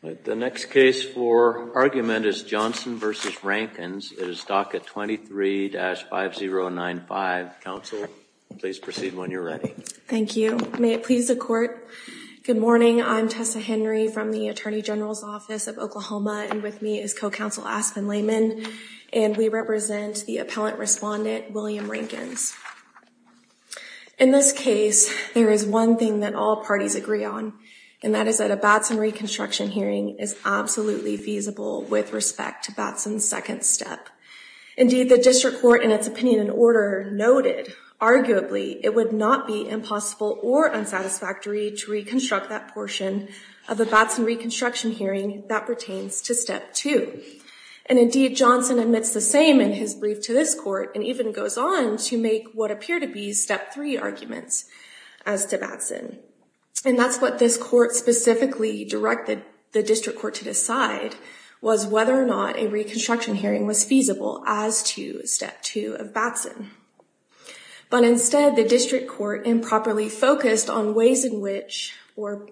The next case for argument is Johnson v. Rankins. It is DACA 23-5095. Counsel, please proceed when you're ready. Thank you. May it please the Court. Good morning. I'm Tessa Henry from the Attorney General's Office of Oklahoma. And with me is Co-Counsel Aspen Lehman. And we represent the appellant respondent, William Rankins. In this case, there is one thing that all parties agree on. And that is that a Batson reconstruction hearing is absolutely feasible with respect to Batson's second step. Indeed, the District Court, in its opinion and order, noted, arguably, it would not be impossible or unsatisfactory to reconstruct that portion of a Batson reconstruction hearing that pertains to step two. And indeed, Johnson admits the same in his brief to this court and even goes on to make what appear to be step three arguments as to Batson. And that's what this court specifically directed the District Court to decide, was whether or not a reconstruction hearing was feasible as to step two of Batson. But instead, the District Court improperly focused on ways in which or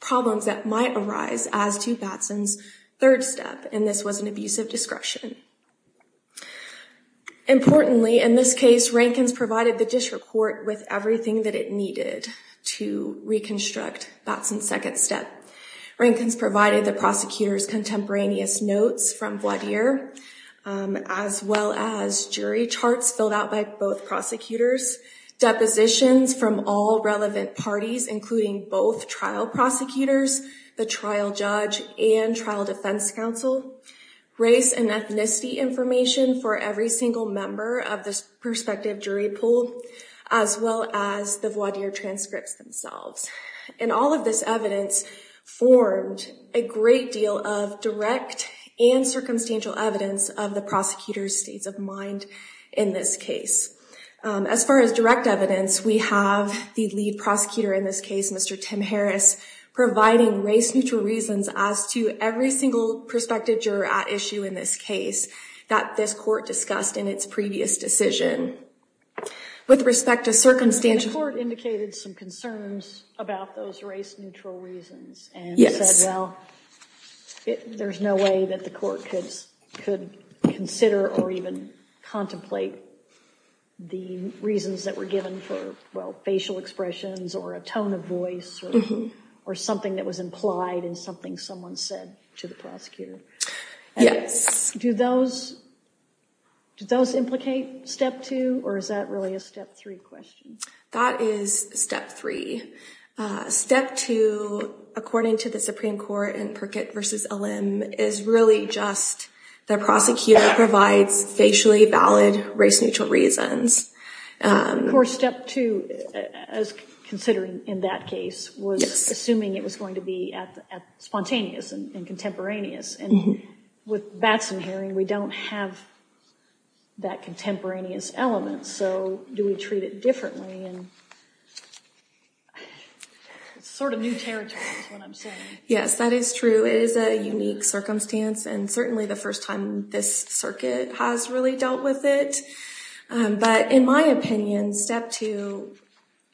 problems that might arise as to Batson's third step. And this was an abusive discretion. Importantly, in this case, Rankins provided the District Court with everything that it needed to reconstruct Batson's second step. Rankins provided the prosecutor's contemporaneous notes from Vladimir, as well as jury charts filled out by both prosecutors, depositions from all relevant parties, including both trial prosecutors, the trial judge and trial defense counsel, race and ethnicity information for every single member of this prospective jury pool, as well as the voir dire transcripts themselves. And all of this evidence formed a great deal of direct and circumstantial evidence of the prosecutor's states of mind in this case. As far as direct evidence, we have the lead prosecutor in this case, Mr. Tim Harris, providing race neutral reasons as to every single prospective juror at issue in this case that this court discussed in its previous decision. With respect to circumstantial... Well, there's no way that the court could consider or even contemplate the reasons that were given for, well, facial expressions or a tone of voice or something that was implied in something someone said to the prosecutor. Yes. Do those, do those implicate step two or is that really a step three question? That is step three. Step two, according to the Supreme Court in Perkett v. Allem, is really just the prosecutor provides facially valid race neutral reasons. Of course, step two, as considering in that case, was assuming it was going to be spontaneous and contemporaneous. And with Batson hearing, we don't have that contemporaneous element. So do we treat it differently? Sort of new territory is what I'm saying. Yes, that is true. It is a unique circumstance and certainly the first time this circuit has really dealt with it. But in my opinion, step two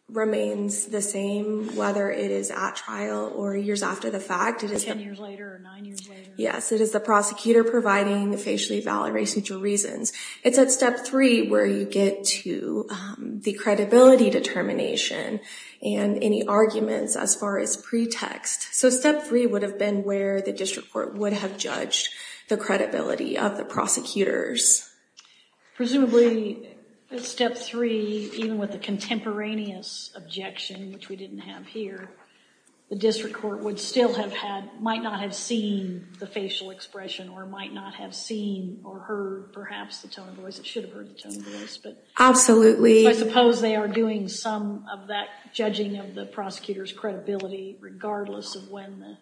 remains the same, whether it is at trial or years after the fact. Yes, it is the prosecutor providing the facially valid racial reasons. It's at step three where you get to the credibility determination and any arguments as far as pretext. So step three would have been where the district court would have judged the credibility of the prosecutors. Presumably step three, even with the contemporaneous objection, which we didn't have here, the district court would still have had, might not have seen the facial expression or might not have seen or heard perhaps the tone of voice. It should have heard the tone of voice. Absolutely. I suppose they are doing some of that judging of the prosecutor's credibility, regardless of when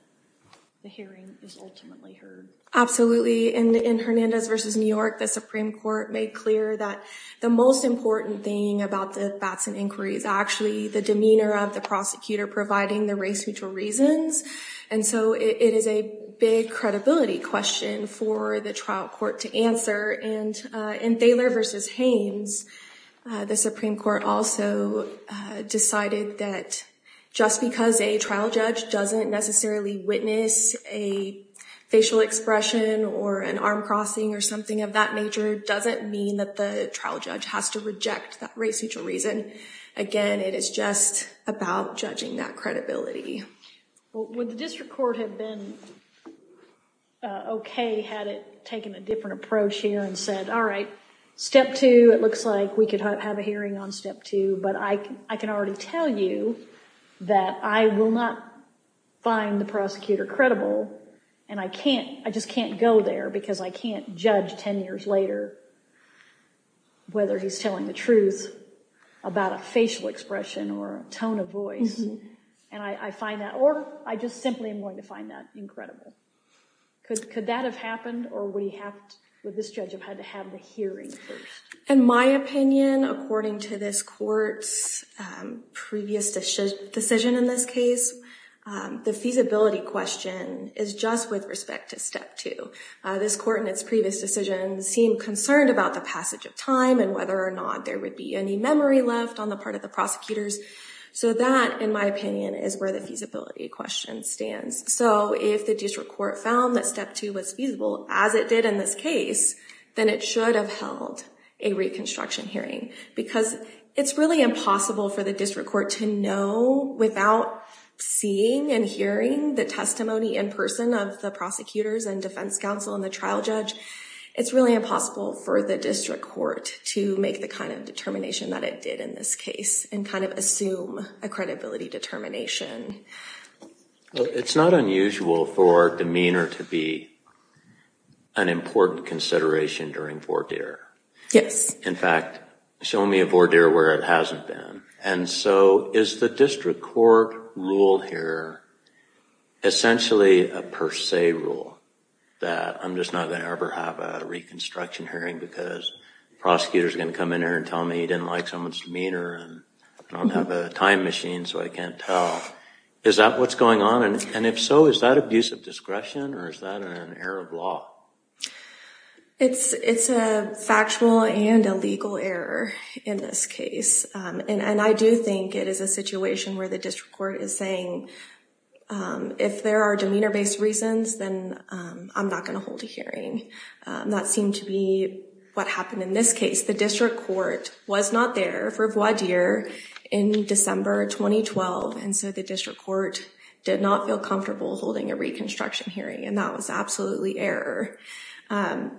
the hearing is ultimately heard. Absolutely. And in Hernandez v. New York, the Supreme Court made clear that the most important thing about the Batson inquiry is actually the demeanor of the prosecutor providing the race mutual reasons. And so it is a big credibility question for the trial court to answer. And in Thaler v. Haynes, the Supreme Court also decided that just because a trial judge doesn't necessarily witness a facial expression or an arm crossing or something of that nature doesn't mean that the trial judge has to reject that race mutual reason. Again, it is just about judging that credibility. Would the district court have been OK had it taken a different approach here and said, all right, step two, it looks like we could have a hearing on step two, but I can already tell you that I will not find the prosecutor credible. And I can't I just can't go there because I can't judge 10 years later whether he's telling the truth about a facial expression or tone of voice. And I find that or I just simply am going to find that incredible. Could that have happened or would this judge have had to have the hearing first? In my opinion, according to this court's previous decision in this case, the feasibility question is just with respect to step two. This court in its previous decision seemed concerned about the passage of time and whether or not there would be any memory left on the part of the prosecutors. So that, in my opinion, is where the feasibility question stands. So if the district court found that step two was feasible, as it did in this case, then it should have held a reconstruction hearing, because it's really impossible for the district court to know without seeing and hearing the testimony in person of the prosecutors and defense counsel and the trial judge. It's really impossible for the district court to make the kind of determination that it did in this case and kind of assume a credibility determination. It's not unusual for demeanor to be an important consideration during voir dire. Yes. In fact, show me a voir dire where it hasn't been. And so is the district court rule here essentially a per se rule? That I'm just not going to ever have a reconstruction hearing because prosecutors are going to come in here and tell me he didn't like someone's demeanor and I don't have a time machine so I can't tell. Is that what's going on? And if so, is that abuse of discretion or is that an error of law? It's a factual and a legal error in this case. And I do think it is a situation where the district court is saying, if there are demeanor-based reasons, then I'm not going to hold a hearing. That seemed to be what happened in this case. The district court was not there for voir dire in December 2012. And so the district court did not feel comfortable holding a reconstruction hearing. And that was absolutely error. And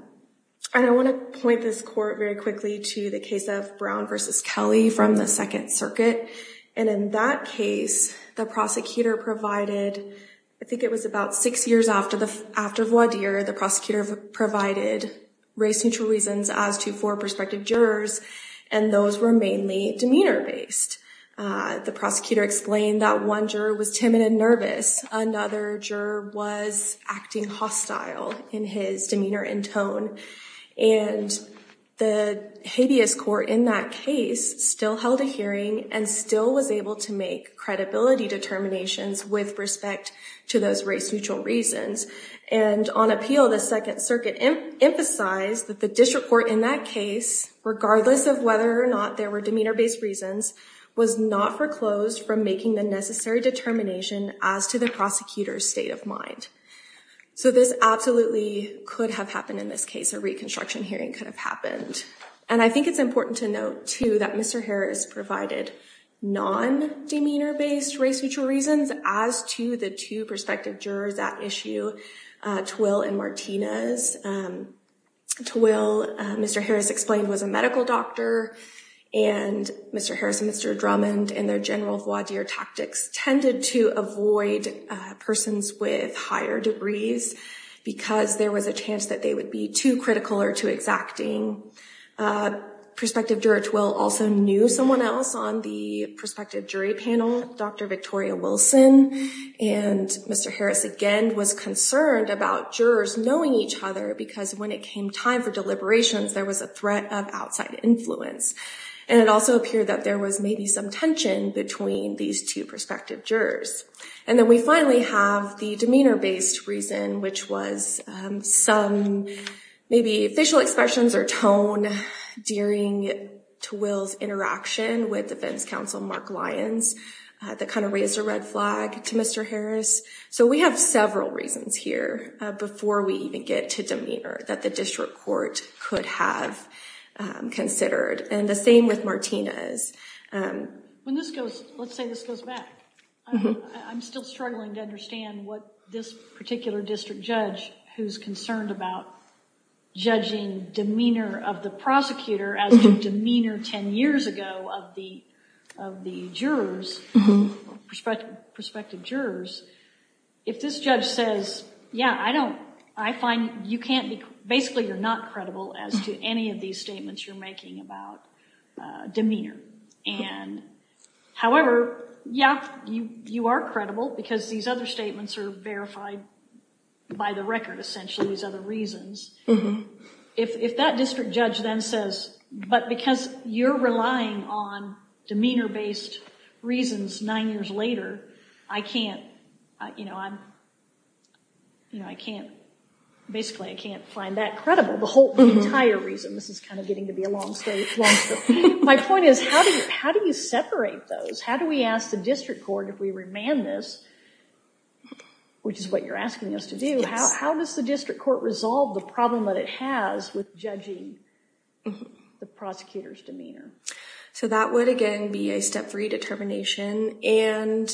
I want to point this court very quickly to the case of Brown v. Kelly from the Second Circuit. And in that case, the prosecutor provided, I think it was about six years after voir dire, the prosecutor provided race-neutral reasons as to four prospective jurors. And those were mainly demeanor-based. The prosecutor explained that one juror was timid and nervous. Another juror was acting hostile in his demeanor and tone. And the habeas court in that case still held a hearing and still was able to make credibility determinations with respect to those race-neutral reasons. And on appeal, the Second Circuit emphasized that the district court in that case, regardless of whether or not there were demeanor-based reasons, was not foreclosed from making the necessary determination as to the prosecutor's state of mind. So this absolutely could have happened in this case. A reconstruction hearing could have happened. And I think it's important to note, too, that Mr. Harris provided non-demeanor-based race-neutral reasons as to the two prospective jurors at issue, Twill and Martinez. Twill, Mr. Harris explained, was a medical doctor. And Mr. Harris and Mr. Drummond, in their general voir dire tactics, tended to avoid persons with higher degrees because there was a chance that they would be too critical or too exacting. Prospective juror Twill also knew someone else on the prospective jury panel, Dr. Victoria Wilson. And Mr. Harris, again, was concerned about jurors knowing each other because when it came time for deliberations, there was a threat of outside influence. And it also appeared that there was maybe some tension between these two prospective jurors. And then we finally have the demeanor-based reason, which was some maybe facial expressions or tone during Twill's interaction with defense counsel Mark Lyons that kind of raised a red flag to Mr. Harris. So we have several reasons here before we even get to demeanor that the district court could have considered. And the same with Martinez. When this goes, let's say this goes back. I'm still struggling to understand what this particular district judge who's concerned about judging demeanor of the prosecutor as to demeanor ten years ago of the jurors, prospective jurors. If this judge says, yeah, I find you can't be, basically you're not credible as to any of these statements you're making about demeanor. And however, yeah, you are credible because these other statements are verified by the record, essentially, these other reasons. If that district judge then says, but because you're relying on demeanor-based reasons nine years later, basically I can't find that credible, the whole entire reason. This is kind of getting to be a long story. My point is, how do you separate those? How do we ask the district court if we remand this, which is what you're asking us to do, how does the district court resolve the problem that it has with judging the prosecutor's demeanor? So that would, again, be a step three determination. And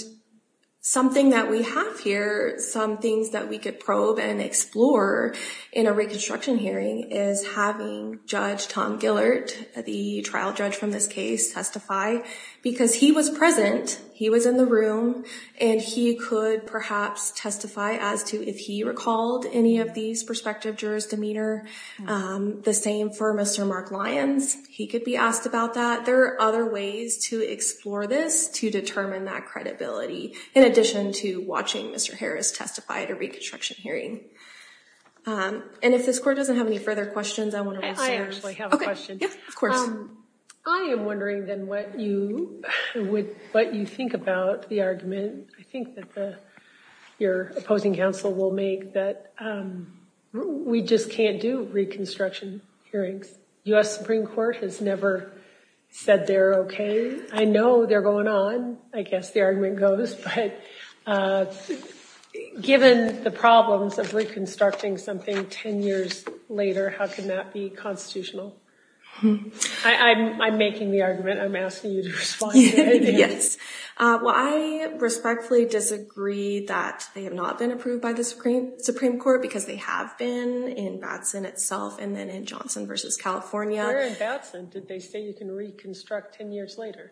something that we have here, some things that we could probe and explore in a reconstruction hearing is having Judge Tom Gillert, the trial judge from this case, testify. Because he was present, he was in the room, and he could perhaps testify as to if he recalled any of these prospective jurors' demeanor. The same for Mr. Mark Lyons. He could be asked about that. Are there other ways to explore this to determine that credibility, in addition to watching Mr. Harris testify at a reconstruction hearing? And if this court doesn't have any further questions, I want to move to yours. I actually have a question. Of course. I am wondering, then, what you think about the argument, I think, that your opposing counsel will make that we just can't do reconstruction hearings. U.S. Supreme Court has never said they're OK. I know they're going on. I guess the argument goes. But given the problems of reconstructing something 10 years later, how can that be constitutional? I'm making the argument. I'm asking you to respond to it. Yes. Well, I respectfully disagree that they have not been approved by the Supreme Court, because they have been in Batson itself, and then in Johnson v. California. Where in Batson did they say you can reconstruct 10 years later?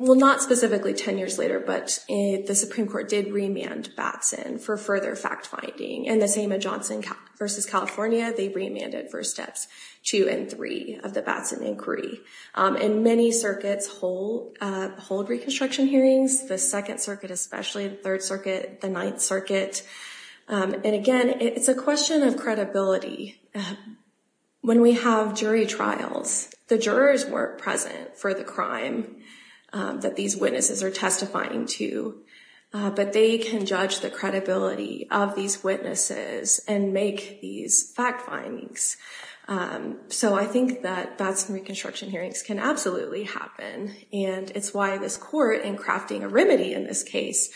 Well, not specifically 10 years later, but the Supreme Court did remand Batson for further fact-finding. And the same in Johnson v. California. They remanded for steps two and three of the Batson inquiry. And many circuits hold reconstruction hearings, the Second Circuit especially, the Third Circuit, the Ninth Circuit. And, again, it's a question of credibility. When we have jury trials, the jurors weren't present for the crime that these witnesses are testifying to. But they can judge the credibility of these witnesses and make these fact findings. So I think that Batson reconstruction hearings can absolutely happen. And it's why this court, in crafting a remedy in this case,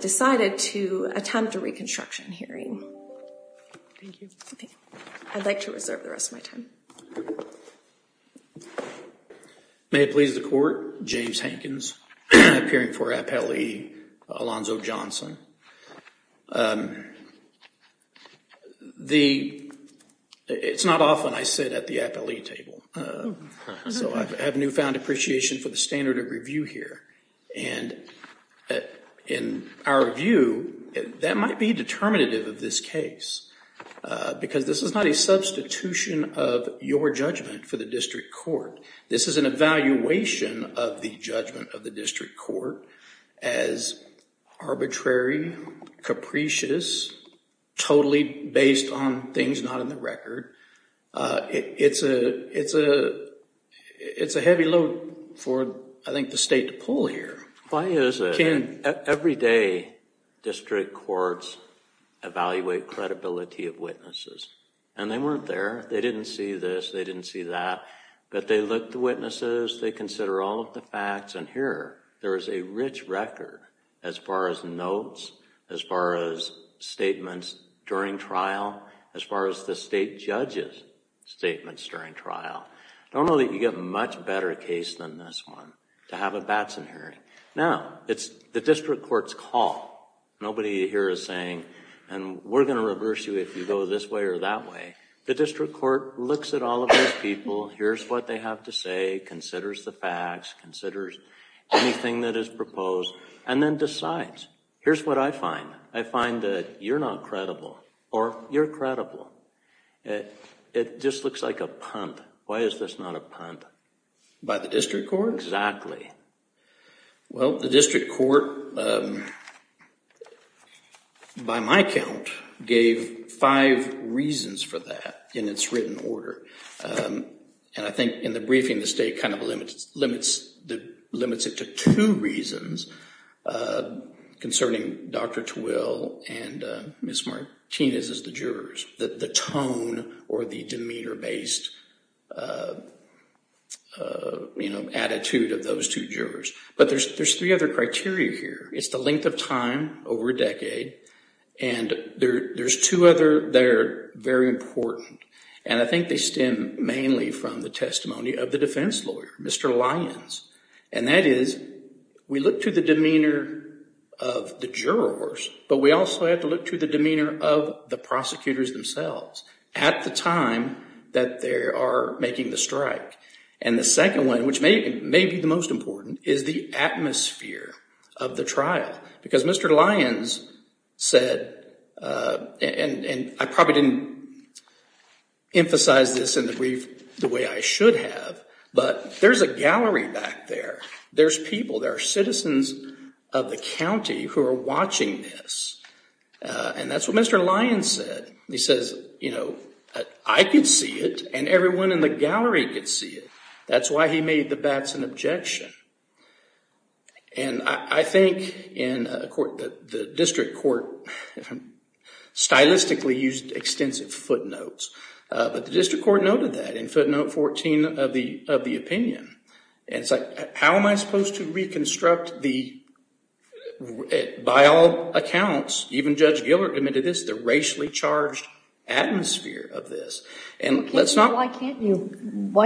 decided to attempt a reconstruction hearing. Thank you. I'd like to reserve the rest of my time. May it please the Court. James Hankins, appearing for Appellee Alonzo Johnson. It's not often I sit at the appellee table. So I have newfound appreciation for the standard of review here. And in our view, that might be determinative of this case. Because this is not a substitution of your judgment for the district court. This is an evaluation of the judgment of the district court as arbitrary, capricious, totally based on things not in the record. It's a heavy load for, I think, the state to pull here. Why is it? Every day, district courts evaluate credibility of witnesses. And they weren't there. They didn't see this. They didn't see that. But they look at the witnesses. They consider all of the facts. And here, there is a rich record as far as notes, as far as statements during trial, as far as the state judge's statements during trial. Normally, you get a much better case than this one, to have a Batson hearing. Now, it's the district court's call. Nobody here is saying, and we're going to reverse you if you go this way or that way. The district court looks at all of those people. Here's what they have to say, considers the facts, considers anything that is proposed, and then decides. Here's what I find. I find that you're not credible, or you're credible. It just looks like a punt. Why is this not a punt? By the district court? Exactly. Well, the district court, by my count, gave five reasons for that in its written order. And I think in the briefing, the state kind of limits it to two reasons concerning Dr. Twill and Ms. Martinez as the jurors, the tone or the demeanor-based attitude of those two jurors. But there's three other criteria here. It's the length of time over a decade. And there's two other that are very important. And I think they stem mainly from the testimony of the defense lawyer, Mr. Lyons. And that is, we look to the demeanor of the jurors, but we also have to look to the demeanor of the prosecutors themselves at the time that they are making the strike. And the second one, which may be the most important, is the atmosphere of the trial. Because Mr. Lyons said, and I probably didn't emphasize this in the brief the way I should have, but there's a gallery back there. There's people, there are citizens of the county who are watching this. And that's what Mr. Lyons said. He says, you know, I could see it and everyone in the gallery could see it. That's why he made the bats an objection. And I think the district court stylistically used extensive footnotes. But the district court noted that in footnote 14 of the opinion. And it's like, how am I supposed to reconstruct the, by all accounts, even Judge Gillert admitted this, the racially charged atmosphere of this? Why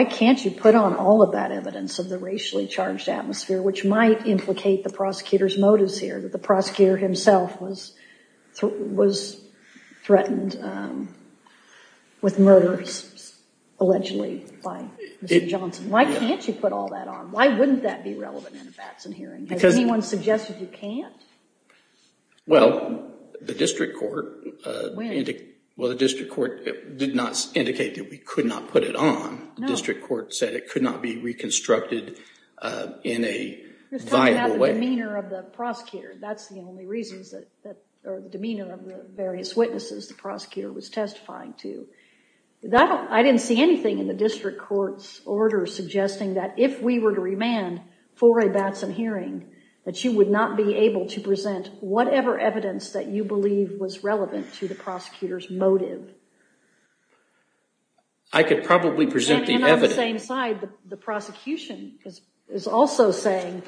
can't you put on all of that evidence of the racially charged atmosphere, which might implicate the prosecutor's motives here. The prosecutor himself was threatened with murder, allegedly, by Mr. Johnson. Why can't you put all that on? Why wouldn't that be relevant in a Batson hearing? Has anyone suggested you can't? Well, the district court did not indicate that we could not put it on. The district court said it could not be reconstructed in a viable way. You're talking about the demeanor of the prosecutor. That's the only reasons that, or the demeanor of the various witnesses the prosecutor was testifying to. I didn't see anything in the district court's order suggesting that if we were to remand for a Batson hearing, that you would not be able to present whatever evidence that you believe was relevant to the prosecutor's motive. I could probably present the evidence. And on the same side, the prosecution is also saying,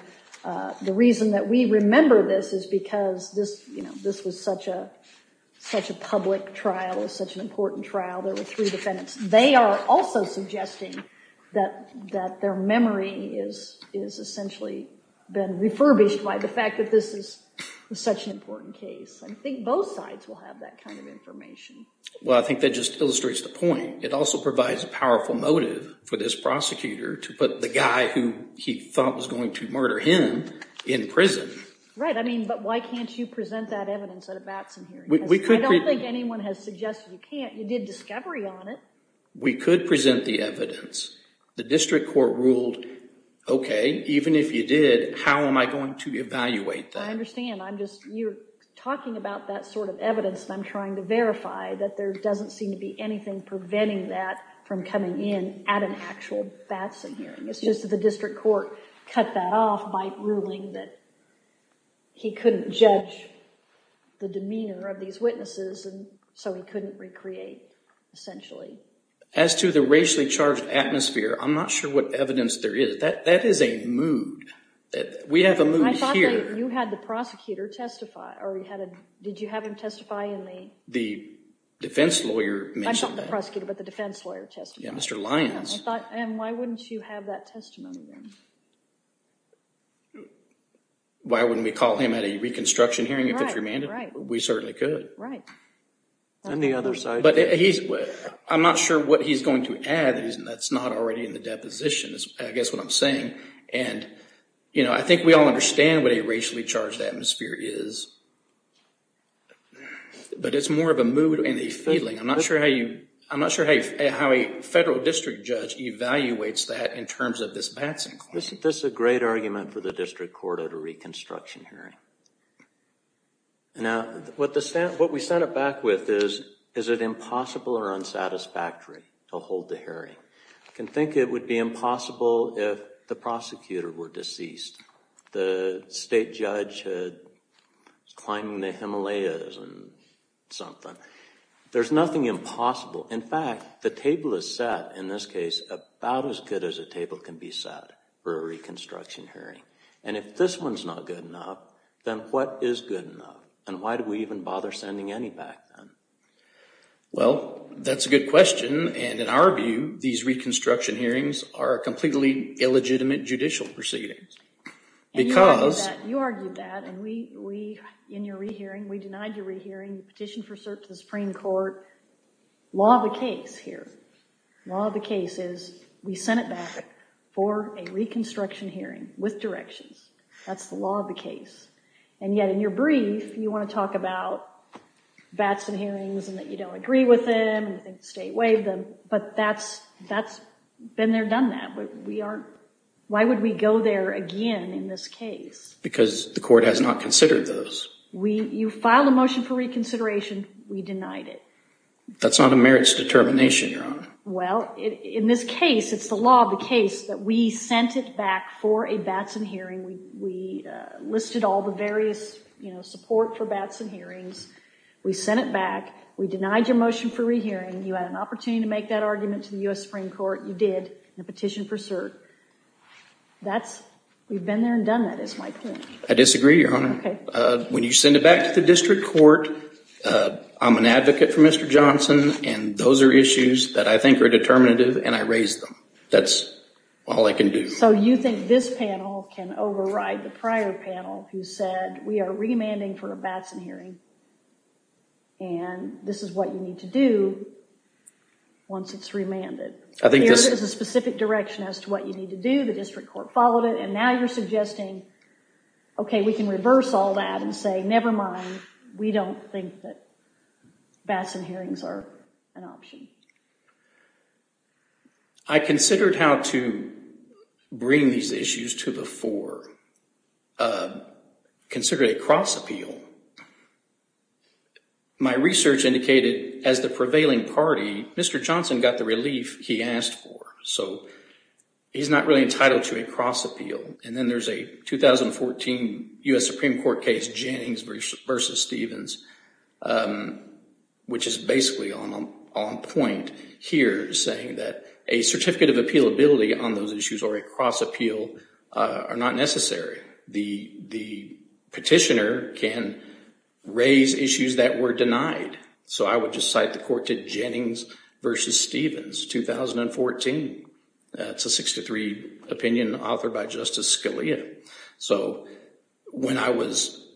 the reason that we remember this is because this was such a public trial. It was such an important trial. There were three defendants. They are also suggesting that their memory is essentially been refurbished by the fact that this is such an important case. I think both sides will have that kind of information. Well, I think that just illustrates the point. It also provides a powerful motive for this prosecutor to put the guy who he thought was going to murder him in prison. Right, I mean, but why can't you present that evidence at a Batson hearing? I don't think anyone has suggested you can't. You did discovery on it. We could present the evidence. The district court ruled, okay, even if you did, how am I going to evaluate that? I understand. I'm just, you're talking about that sort of evidence, and I'm trying to verify that there doesn't seem to be anything preventing that from coming in at an actual Batson hearing. It's just that the district court cut that off by ruling that he couldn't judge the demeanor of these witnesses, and so he couldn't recreate, essentially. As to the racially charged atmosphere, I'm not sure what evidence there is. That is a mood. We have a mood here. I thought that you had the prosecutor testify, or did you have him testify in the… The defense lawyer mentioned that. I thought the prosecutor, but the defense lawyer testified. Yeah, Mr. Lyons. I thought, and why wouldn't you have that testimony there? Why wouldn't we call him at a reconstruction hearing if it's remanded? Right, right. We certainly could. Right. And the other side? But he's, I'm not sure what he's going to add. That's not already in the deposition, I guess what I'm saying. And, you know, I think we all understand what a racially charged atmosphere is, but it's more of a mood and a feeling. I'm not sure how a federal district judge evaluates that in terms of this Batson claim. This is a great argument for the district court at a reconstruction hearing. Now, what we set it back with is, is it impossible or unsatisfactory to hold the hearing? You can think it would be impossible if the prosecutor were deceased. The state judge climbing the Himalayas and something. There's nothing impossible. In fact, the table is set, in this case, about as good as a table can be set for a reconstruction hearing. And if this one's not good enough, then what is good enough? And why do we even bother sending any back then? Well, that's a good question. And in our view, these reconstruction hearings are completely illegitimate judicial proceedings. And you argued that, and we, in your re-hearing, we denied your re-hearing, petitioned for cert to the Supreme Court. Law of the case here. Law of the case is we sent it back for a reconstruction hearing with directions. That's the law of the case. And yet in your brief, you want to talk about Batson hearings and that you don't agree with them and you think the state waived them, but that's been there, done that. Why would we go there again in this case? Because the court has not considered those. You filed a motion for reconsideration. We denied it. That's not a merits determination, Your Honor. Well, in this case, it's the law of the case that we sent it back for a Batson hearing. We listed all the various support for Batson hearings. We sent it back. We denied your motion for re-hearing. You had an opportunity to make that argument to the U.S. Supreme Court. You did in a petition for cert. We've been there and done that is my point. I disagree, Your Honor. When you send it back to the district court, I'm an advocate for Mr. Johnson, and those are issues that I think are determinative, and I raised them. That's all I can do. So you think this panel can override the prior panel who said we are remanding for a Batson hearing and this is what you need to do once it's remanded. There is a specific direction as to what you need to do. The district court followed it, and now you're suggesting, okay, we can reverse all that and say never mind, we don't think that Batson hearings are an option. I considered how to bring these issues to the fore. Consider a cross appeal. My research indicated as the prevailing party, Mr. Johnson got the relief he asked for. So he's not really entitled to a cross appeal. And then there's a 2014 U.S. Supreme Court case, Jennings v. Stevens, which is basically on point here saying that a certificate of appealability on those issues or a cross appeal are not necessary. The petitioner can raise issues that were denied. So I would just cite the court to Jennings v. Stevens, 2014. It's a 63 opinion authored by Justice Scalia. So when I was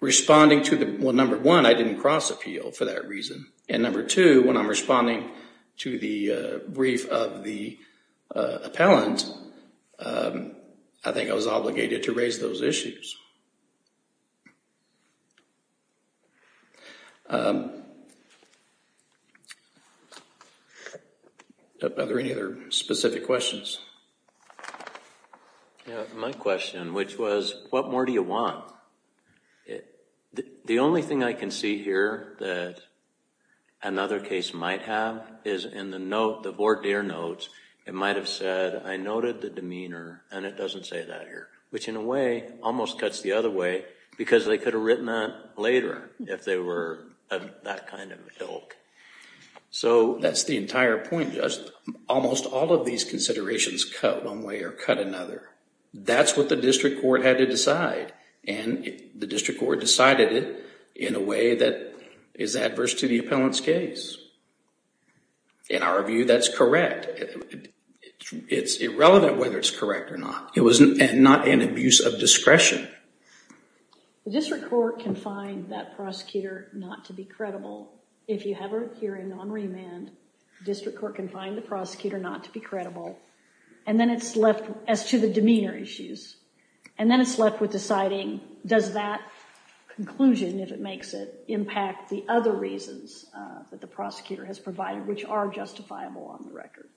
responding to the, well, number one, I didn't cross appeal for that reason. And number two, when I'm responding to the brief of the appellant, I think I was obligated to raise those issues. Are there any other specific questions? My question, which was what more do you want? The only thing I can see here that another case might have is in the note, it might have said, I noted the demeanor, and it doesn't say that here, which in a way almost cuts the other way because they could have written that later if they were of that kind of ilk. So that's the entire point, Judge. Almost all of these considerations cut one way or cut another. That's what the district court had to decide. And the district court decided it in a way that is adverse to the appellant's case. In our view, that's correct. It's irrelevant whether it's correct or not. It was not an abuse of discretion. The district court can find that prosecutor not to be credible. If you have a hearing on remand, the district court can find the prosecutor not to be credible. And then it's left as to the demeanor issues. And then it's left with deciding does that conclusion, if it makes it, that the prosecutor has provided, which are justifiable on the record.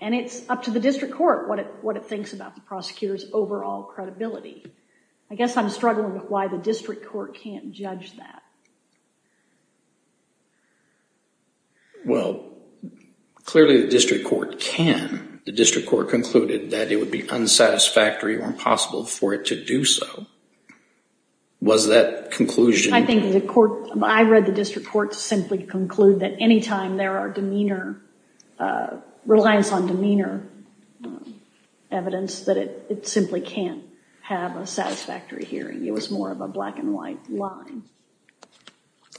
And it's up to the district court what it thinks about the prosecutor's overall credibility. I guess I'm struggling with why the district court can't judge that. Well, clearly the district court can. The district court concluded that it would be unsatisfactory or impossible for it to do so. Was that conclusion? I think the court, I read the district court simply conclude that anytime there are demeanor, reliance on demeanor evidence, that it simply can't have a satisfactory hearing. It was more of a black and white line.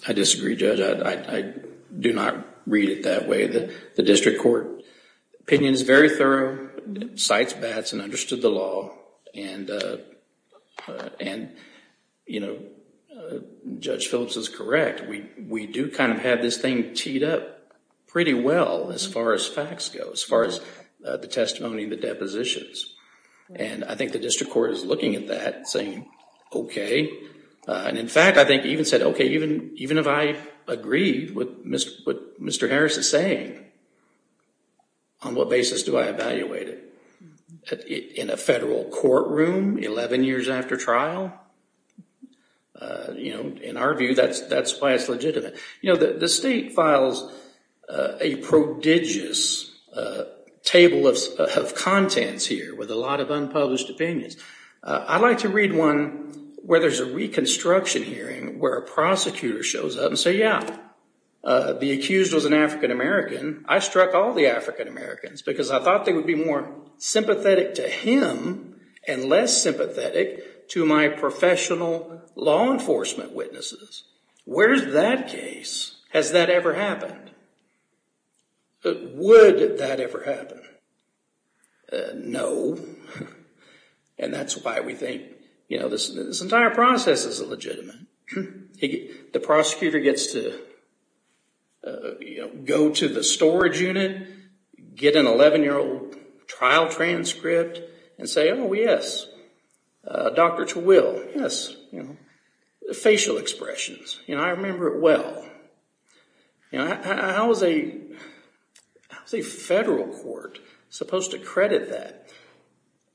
I disagree, Judge. I do not read it that way. The district court opinion is very thorough, cites bats and understood the law. And Judge Phillips is correct. We do kind of have this thing teed up pretty well as far as facts go, as far as the testimony and the depositions. And I think the district court is looking at that and saying, okay. And in fact, I think even said, okay, even if I agree with what Mr. Harris is saying, on what basis do I evaluate it? In a federal courtroom, 11 years after trial? In our view, that's why it's legitimate. The state files a prodigious table of contents here with a lot of unpublished opinions. I'd like to read one where there's a reconstruction hearing where a prosecutor shows up and say, yeah, the accused was an African-American. I struck all the African-Americans because I thought they would be more sympathetic to him and less sympathetic to my professional law enforcement witnesses. Where's that case? Has that ever happened? Would that ever happen? No. And that's why we think this entire process is illegitimate. The prosecutor gets to go to the storage unit, get an 11-year-old trial transcript, and say, oh, yes, Dr. Terwill, yes, facial expressions. I remember it well. How is a federal court supposed to credit that?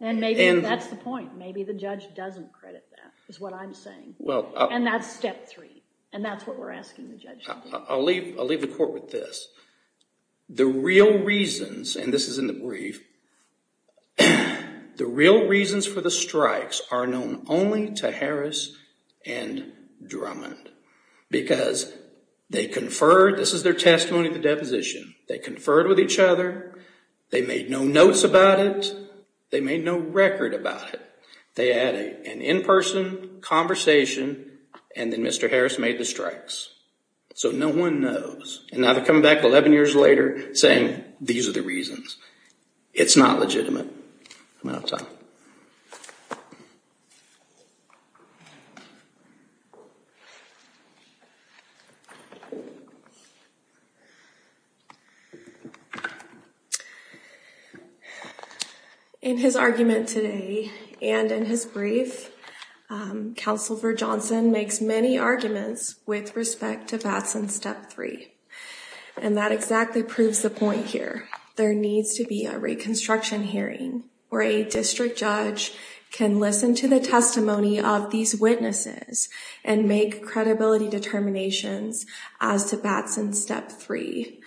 And maybe that's the point. Maybe the judge doesn't credit that is what I'm saying. And that's step three, and that's what we're asking the judge to do. I'll leave the court with this. The real reasons, and this is in the brief, the real reasons for the strikes are known only to Harris and Drummond because they conferred. This is their testimony at the deposition. They conferred with each other. They made no notes about it. They made no record about it. They had an in-person conversation, and then Mr. Harris made the strikes. So no one knows. And now they're coming back 11 years later saying these are the reasons. It's not legitimate. I'm out of time. Thank you. In his argument today and in his brief, Counselor Johnson makes many arguments with respect to Vatson's step three. And that exactly proves the point here. There needs to be a reconstruction hearing where a district judge can listen to the testimony of these witnesses and make credibility determinations as to Vatson's step three.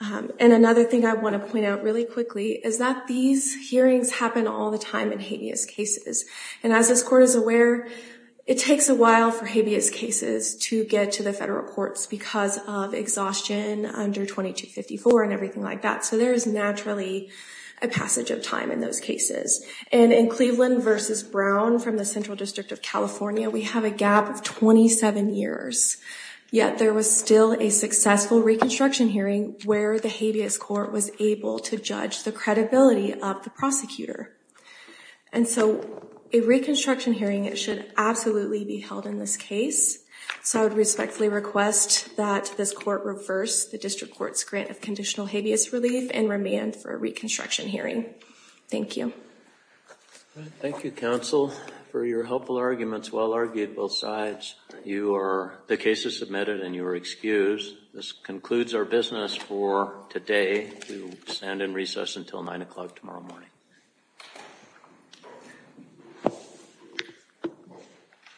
And another thing I want to point out really quickly is that these hearings happen all the time in habeas cases. And as this court is aware, it takes a while for habeas cases to get to the federal courts because of exhaustion under 2254 and everything like that. So there is naturally a passage of time in those cases. And in Cleveland v. Brown from the Central District of California, we have a gap of 27 years. Yet there was still a successful reconstruction hearing where the habeas court was able to judge the credibility of the prosecutor. And so a reconstruction hearing should absolutely be held in this case. So I would respectfully request that this court reverse the district court's grant of conditional habeas relief and remand for a reconstruction hearing. Thank you. Thank you, Counsel, for your helpful arguments. Well argued both sides. The case is submitted and you are excused. This concludes our business for today. We will stand in recess until 9 o'clock tomorrow morning.